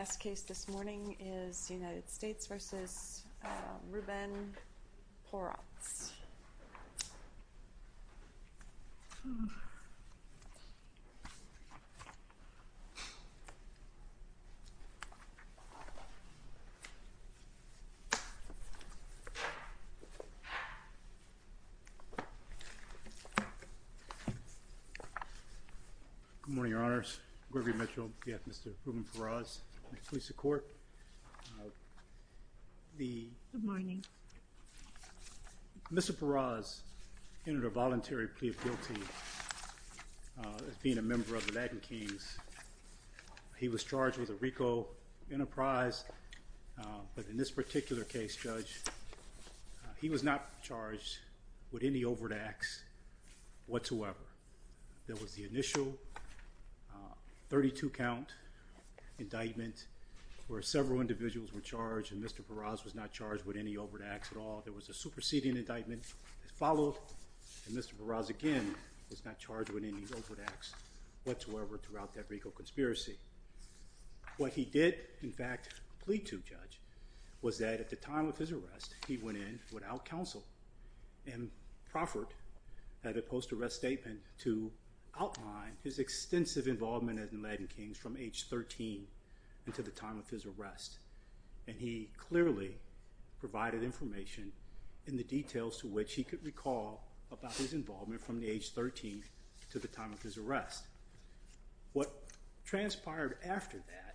The best case this morning is U.S. v. Ruben Porraz. Good morning, your honors. Gregory Mitchell, v. Mr. Ruben Porraz, police to court. Mr. Porraz entered a voluntary plea of guilty as being a member of the Latin Kings. He was charged with a RICO enterprise, but in this particular case, Judge, he was not charged with any overt acts whatsoever. There was the initial 32 count indictment where several individuals were charged and Mr. Porraz was not charged with any overt acts at all. There was a superseding indictment that followed, and Mr. Porraz again was not charged with any overt acts whatsoever throughout that RICO conspiracy. What he did, in fact, plead to, Judge, was that at the time of his arrest, he went in without counsel and proffered at a post-arrest statement to outline his extensive involvement in the Latin Kings from age 13 until the time of his arrest, and he clearly provided information in the details to which he could recall about his involvement from the age 13 to the time of his arrest. What transpired after that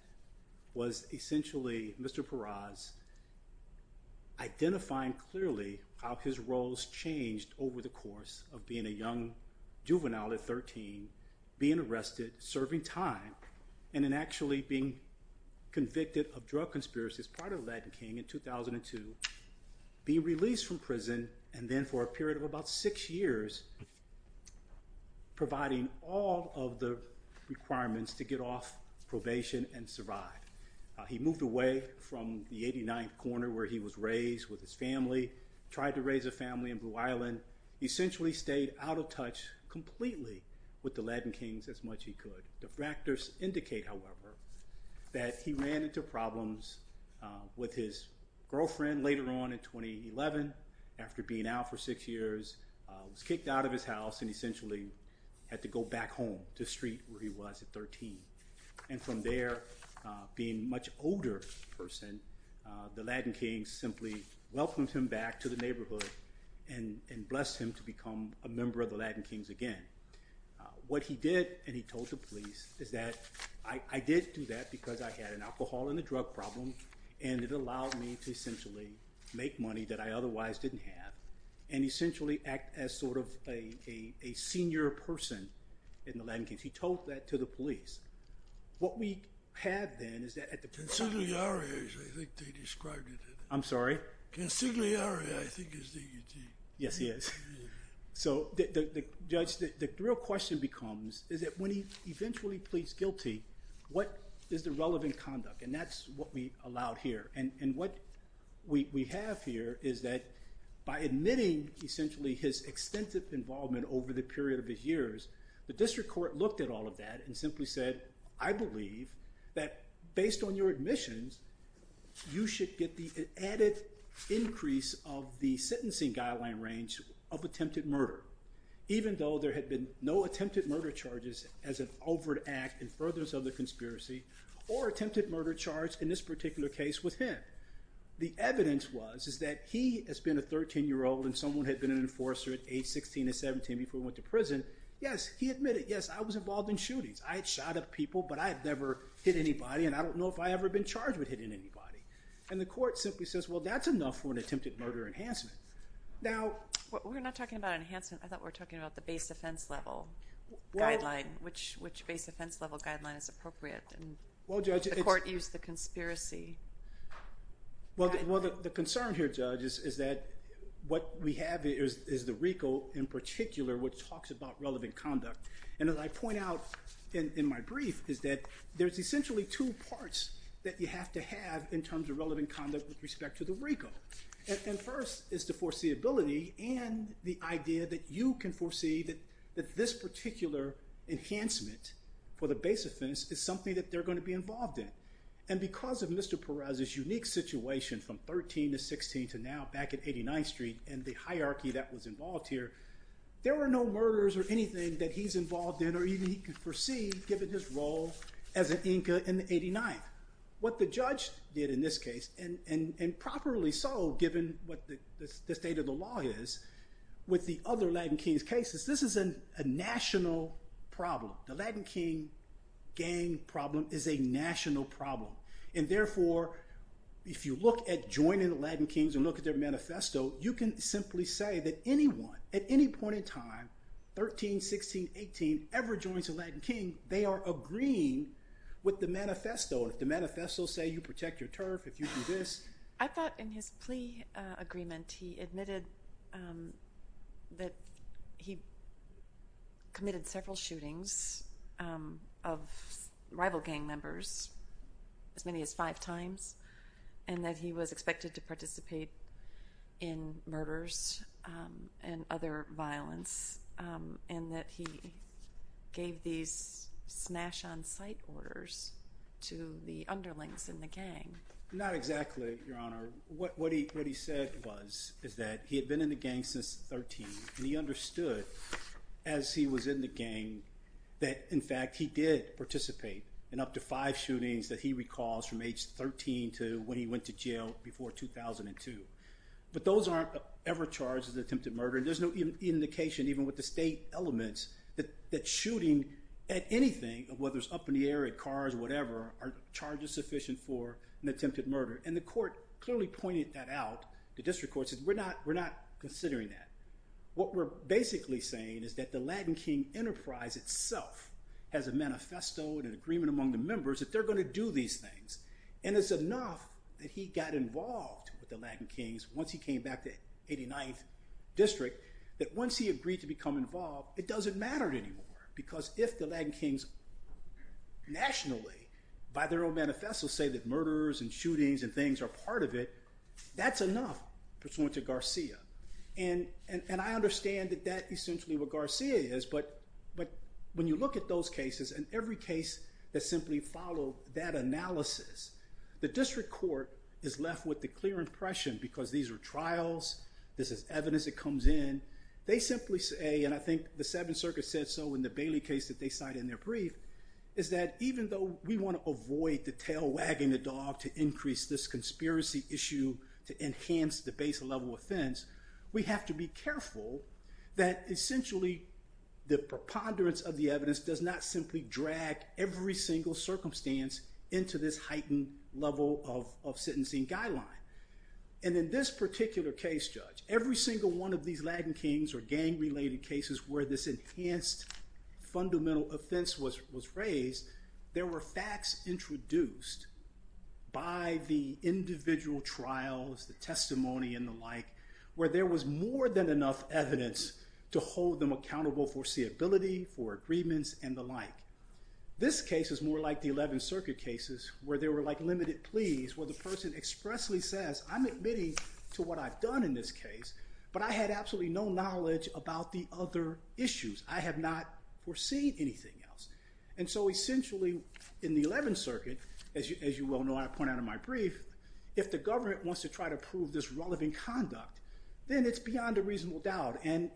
was essentially Mr. Porraz identifying clearly how his roles changed over the course of being a young juvenile at 13, being arrested, serving time, and then actually being convicted of drug conspiracy as part of the Latin King in 2002, being released from prison, and then for a period of about six years providing all of the requirements to get off probation and survive. He moved away from the 89th corner where he was raised with his family, tried to raise a family in Blue Island. He essentially stayed out of touch completely with the Latin Kings as much as he could. The factors indicate, however, that he ran into problems with his girlfriend later on in 2011 after being out for six years, was kicked out of his house, and essentially had to go back home to the street where he was at 13. And from there, being a much older person, the Latin Kings simply welcomed him back to the neighborhood and blessed him to become a member of the Latin Kings again. What he did, and he told the police, is that, I did do that because I had an alcohol and a drug problem, and it allowed me to essentially make money that I otherwise didn't have, and essentially act as sort of a senior person in the Latin Kings. He told that to the police. What we have then is that at the- Consigliere, I think they described it. I'm sorry? Consigliere, I think is the- Yes, he is. So the judge, the real question becomes, is that when he eventually pleads guilty, what is the relevant conduct? And that's what we allowed here. And what we have here is that by admitting, essentially, his extensive involvement over the period of his years, the district court looked at all of that and simply said, I believe that based on your admissions, you should get the added increase of the sentencing guideline range of attempted murder, even though there had been no attempted murder charges as an overt act in furtherance of the conspiracy or attempted murder charge in this particular case with him. The evidence was, is that he has been a 13-year-old and someone had been an enforcer at age 16 or 17 before he went to prison. Yes, he admitted, yes, I was involved in shootings. I had shot up people, but I had never hit anybody, and I don't know if I've ever been charged with hitting anybody. And the court simply says, well, that's enough for an attempted murder enhancement. Now- We're not talking about enhancement. I thought we were talking about the base offense level guideline, which base offense level guideline is appropriate, and the court used the conspiracy guideline. Well, the concern here, Judge, is that what we have is the RICO in particular, which talks about relevant conduct, and as I point out in my brief, is that there's essentially two parts that you have to have in terms of relevant conduct with respect to the RICO. And first is the foreseeability and the idea that you can foresee that this particular enhancement for the base offense is something that they're going to be involved in. And because of Mr. Perez's unique situation from 13 to 16 to now back at 89th Street and the hierarchy that was involved here, there were no murders or anything that he's involved in or even he could foresee given his role as an Inca in the 89th. What the judge did in this case, and properly so given what the state of the law is, with the other Latin Kings cases, this is a national problem. The Latin King gang problem is a national problem. And therefore, if you look at joining the Latin Kings and look at their at any point in time, 13, 16, 18, ever joins the Latin King, they are agreeing with the manifesto. If the manifesto say you protect your turf, if you do this. I thought in his plea agreement, he admitted that he committed several shootings of rival and other violence and that he gave these smash on site orders to the underlings in the gang. Not exactly, Your Honor. What he said was is that he had been in the gang since 13 and he understood as he was in the gang that in fact he did participate in up to five shootings that he recalls from age 13 to when he went to jail before 2002. But those aren't ever charged as attempted murder. There's no indication even with the state elements that shooting at anything, whether it's up in the air, at cars, whatever, are charges sufficient for an attempted murder. And the court clearly pointed that out. The district court said we're not considering that. What we're basically saying is that the Latin King enterprise itself has a manifesto and an agreement among the members that they're going to do these things. And it's enough that he got involved with the Latin Kings once he came back to 89th district that once he agreed to become involved, it doesn't matter anymore. Because if the Latin Kings nationally by their own manifesto say that murders and shootings and things are part of it, that's enough pursuant to Garcia. And I understand that that essentially what Garcia is. But when you look at those cases and every case that simply followed that analysis, the district court is left with the clear impression, because these are trials, this is evidence that comes in, they simply say, and I think the Seventh Circuit said so in the Bailey case that they cite in their brief, is that even though we want to avoid the tail wagging the dog to increase this conspiracy issue to enhance the base level offense, we have to be careful that essentially the preponderance of the evidence does not simply drag every single circumstance into this heightened level of sentencing guideline. And in this particular case, Judge, every single one of these Latin Kings or gang-related cases where this enhanced fundamental offense was raised, there were facts introduced by the individual trials, as well as the testimony and the like, where there was more than enough evidence to hold them accountable for seeability, for agreements, and the like. This case is more like the Eleventh Circuit cases where there were like limited pleas where the person expressly says, I'm admitting to what I've done in this case, but I had absolutely no knowledge about the other issues. I have not foreseen anything else. And so essentially in the Eleventh Circuit, as you well know, I point out in my brief, if the government wants to try to prove this relevant conduct, then it's beyond a reasonable doubt. And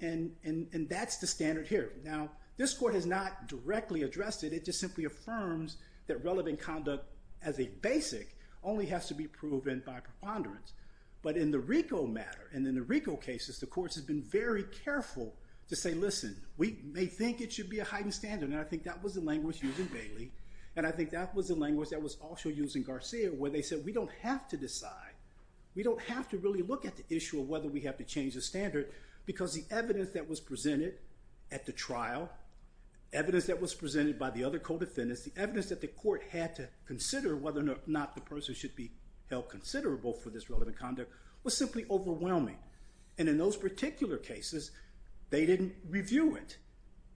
that's the standard here. Now, this court has not directly addressed it. It just simply affirms that relevant conduct as a basic only has to be proven by preponderance. But in the RICO matter, and in the RICO cases, the courts have been very careful to say, listen, we may think it should be a heightened standard. And I think that was the language used in Bailey, and I think that was the language that was also used in Garcia, where they said, we don't have to decide. We don't have to really look at the issue of whether we have to change the standard, because the evidence that was presented at the trial, evidence that was presented by the other co-defendants, the evidence that the court had to consider whether or not the person should be held considerable for this relevant conduct, was simply overwhelming. And in those particular cases, they didn't review it.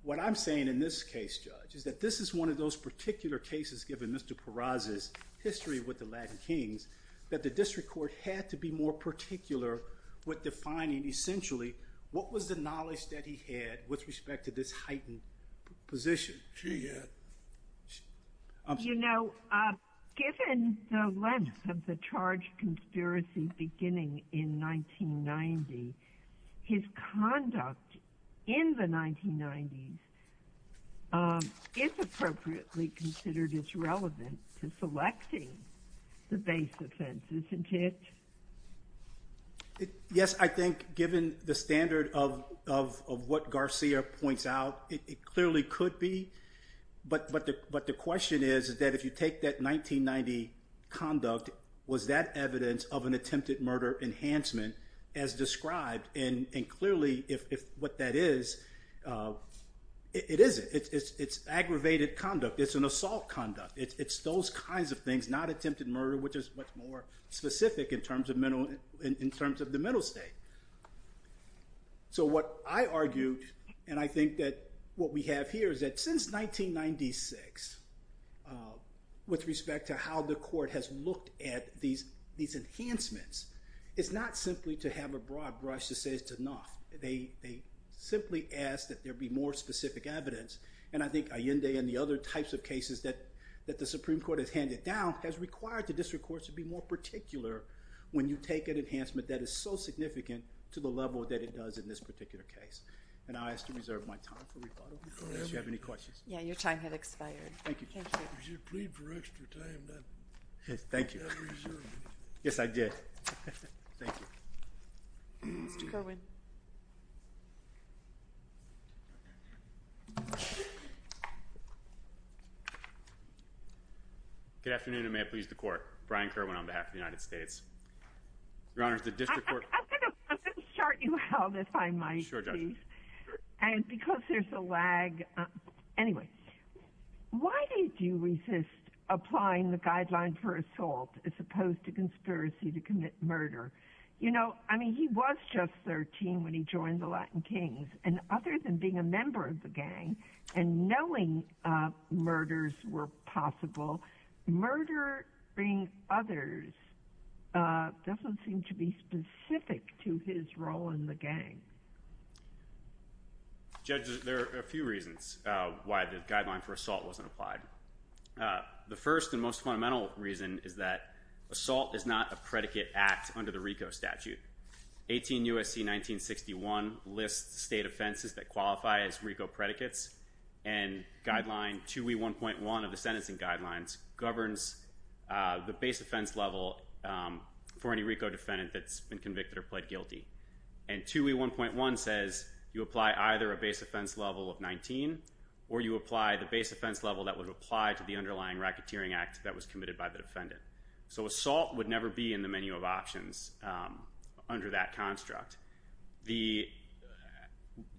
What I'm saying in this case, Judge, is that this is one of those particular cases, given Mr. Peraza's history with the Latin Kings, that the district court had to be more particular with defining, essentially, what was the knowledge that he had with respect to this heightened position? You know, given the length of the charge conspiracy beginning in 1990, his conduct in the 1990s is appropriately considered as relevant to selecting the base offense, isn't it? Yes, I think, given the standard of what Garcia points out, it clearly could be. But the question is that if you take that 1990 conduct, was that evidence of an attempted murder enhancement as described? And clearly, if what that is, it isn't. It's aggravated conduct. It's an assault conduct. It's those kinds of things, not attempted murder, which is much more specific in terms of the middle state. So what I argued, and I think that what we have here, is that since 1996, with respect to how the court has looked at these enhancements, it's not simply to have a broad brush to say it's enough. They simply ask that there be more specific evidence. And I think the Supreme Court has handed down, has required the district courts to be more particular when you take an enhancement that is so significant to the level that it does in this particular case. And I ask to reserve my time for rebuttal, in case you have any questions. Yeah, your time has expired. Thank you. You should plead for extra time. Thank you. Yes, I did. Thank you. Mr. Corwin. Good afternoon, and may it please the court. Brian Corwin on behalf of the United States. Your Honor, the district court... I'm going to start you out, if I might, please. Sure, Judge. Because there's a lag. Anyway, why did you resist applying the guideline for assault, as opposed to conspiracy to commit murder? You know, I mean, he was just 13 when he joined the Latin Kings, and other than being a member of the gang, and knowing murders were possible, murdering others doesn't seem to be specific to his role in the gang. Judge, there are a few reasons why the guideline for assault wasn't applied. The first and most fundamental reason is that assault is not a predicate act under the RICO statute. 18 U.S.C. 1961 lists state offenses that qualify as RICO predicates, and guideline 2E1.1 of the sentencing guidelines governs the base offense level for any RICO defendant that's been convicted or pled guilty. And 2E1.1 says you apply either a base offense level of 19, or you apply the base offense level that would apply to the underlying racketeering act that was committed by the defendant. So assault would never be in the menu of options under that construct.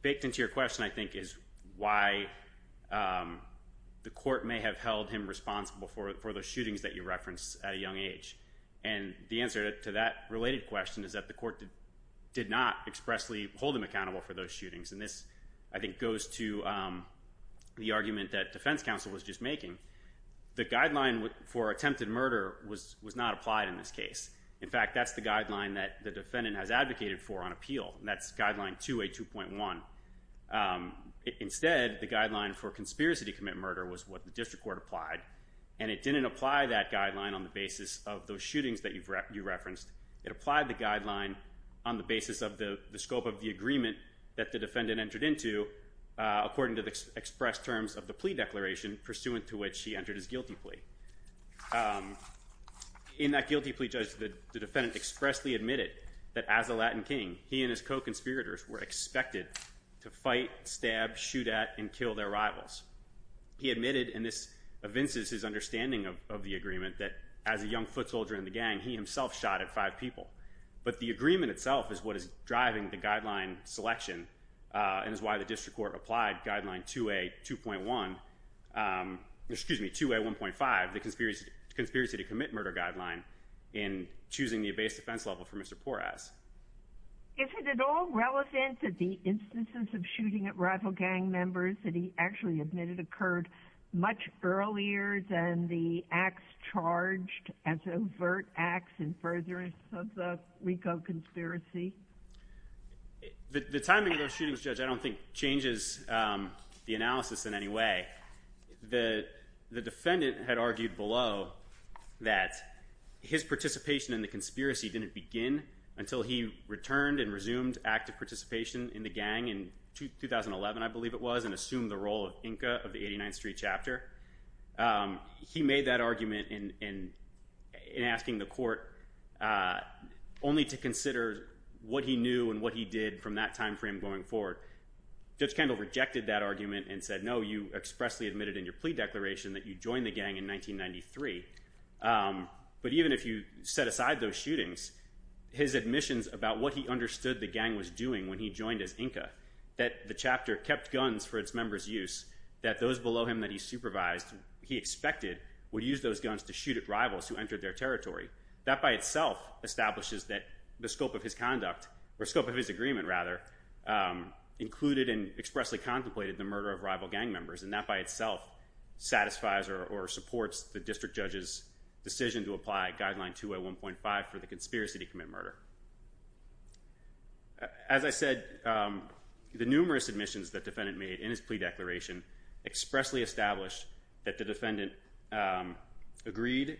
Baked into your question, I think, is why the court may have held him responsible for the shootings that you referenced at a young age. And the answer to that related question is that the court did not expressly hold him accountable for those shootings. And this, I think, goes to the argument that defense counsel was just making. The guideline for attempted murder was not applied in this case. In fact, that's the guideline that the defendant has advocated for on appeal, and that's guideline 2A2.1. Instead, the guideline for conspiracy to commit murder was what the district court applied, and it didn't apply that guideline on the basis of those shootings that you referenced. It applied the guideline on the basis of the scope of the agreement that the defendant entered into according to the expressed terms of the plea declaration pursuant to which he entered his guilty plea. In that guilty plea, Judge, the defendant expressly admitted that as a Latin King, he and his co-conspirators were expected to fight, stab, shoot at, and kill their rivals. He admitted, and this evinces his understanding of the agreement, that as a young foot soldier in the gang, he himself shot at five people. But the agreement itself is what is driving the guideline selection, and is why the district court applied guideline 2A1.5, the conspiracy to commit murder guideline, in choosing the base defense level for Mr. Porras. Is it at all relevant that the instances of shooting at rival gang members that he actually admitted occurred much earlier than the acts charged as overt acts in furtherance of the RICO conspiracy? The timing of those shootings, Judge, I don't think changes the analysis in any way. The defendant had argued below that his participation in the conspiracy didn't begin until he assumed the role of Inca of the 89th Street Chapter. He made that argument in asking the court only to consider what he knew and what he did from that time frame going forward. Judge Kendall rejected that argument and said, no, you expressly admitted in your plea declaration that you joined the gang in 1993. But even if you set aside those shootings, his admissions about what he used, that those below him that he supervised, he expected, would use those guns to shoot at rivals who entered their territory. That by itself establishes that the scope of his conduct, or scope of his agreement rather, included and expressly contemplated the murder of rival gang members, and that by itself satisfies or supports the district judge's decision to apply guideline 2A1.5 for the conspiracy to commit murder. As I said, the numerous admissions that defendant made in his plea declaration expressly established that the defendant agreed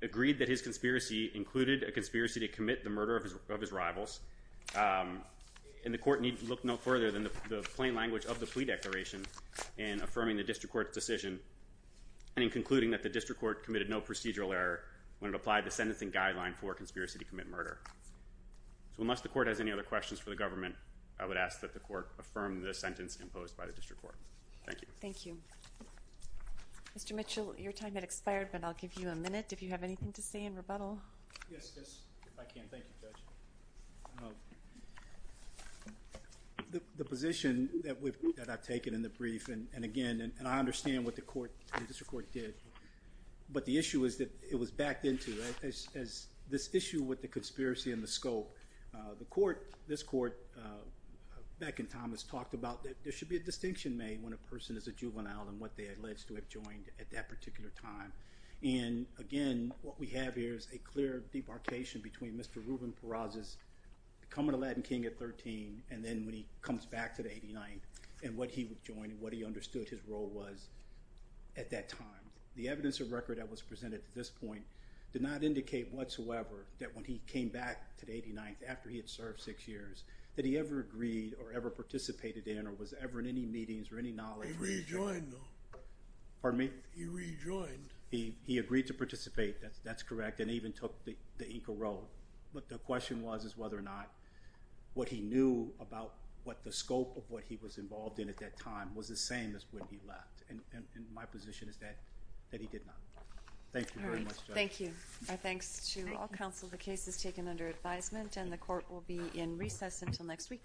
that his conspiracy included a conspiracy to commit the murder of his rivals, and the court needed to look no further than the plain language of the plea declaration in affirming the district court's decision and in concluding that the district court committed no procedural error when it applied the sentencing guideline for conspiracy to commit murder. So unless the court has any other questions for the government, I would ask that the court affirm the sentence imposed by the district court. Thank you. Mr. Mitchell, your time has expired, but I'll give you a minute if you have anything to say in rebuttal. The position that I've taken in the brief, and again, and I understand what the district court did, but the issue is that it was backed into as this issue with the conspiracy and the scope. The court, this court, back in time has talked about that there should be a distinction made when a person is a juvenile and what they allege to have joined at that particular time. And again, what we have here is a clear debarkation between Mr. Ruben Peraza's becoming Aladdin King at 13 and then when he comes back to the 89th and what he would join and what he understood his role was at that time. The evidence of record that was presented at this point did not indicate whatsoever that when he came back to the 89th after he had served six years, that he ever agreed or ever participated in or was ever in any meetings or any knowledge. He rejoined though. Pardon me? He rejoined. He agreed to participate, that's correct, and even took the Inka Road. But the question was whether or not what he knew about what the scope of what he was involved in at that time was the same as when he left. And my position is that he did not. Thank you very much, Judge. Thank you. Our thanks to all counsel. The case is taken under advisement and the court will be in recess until next week.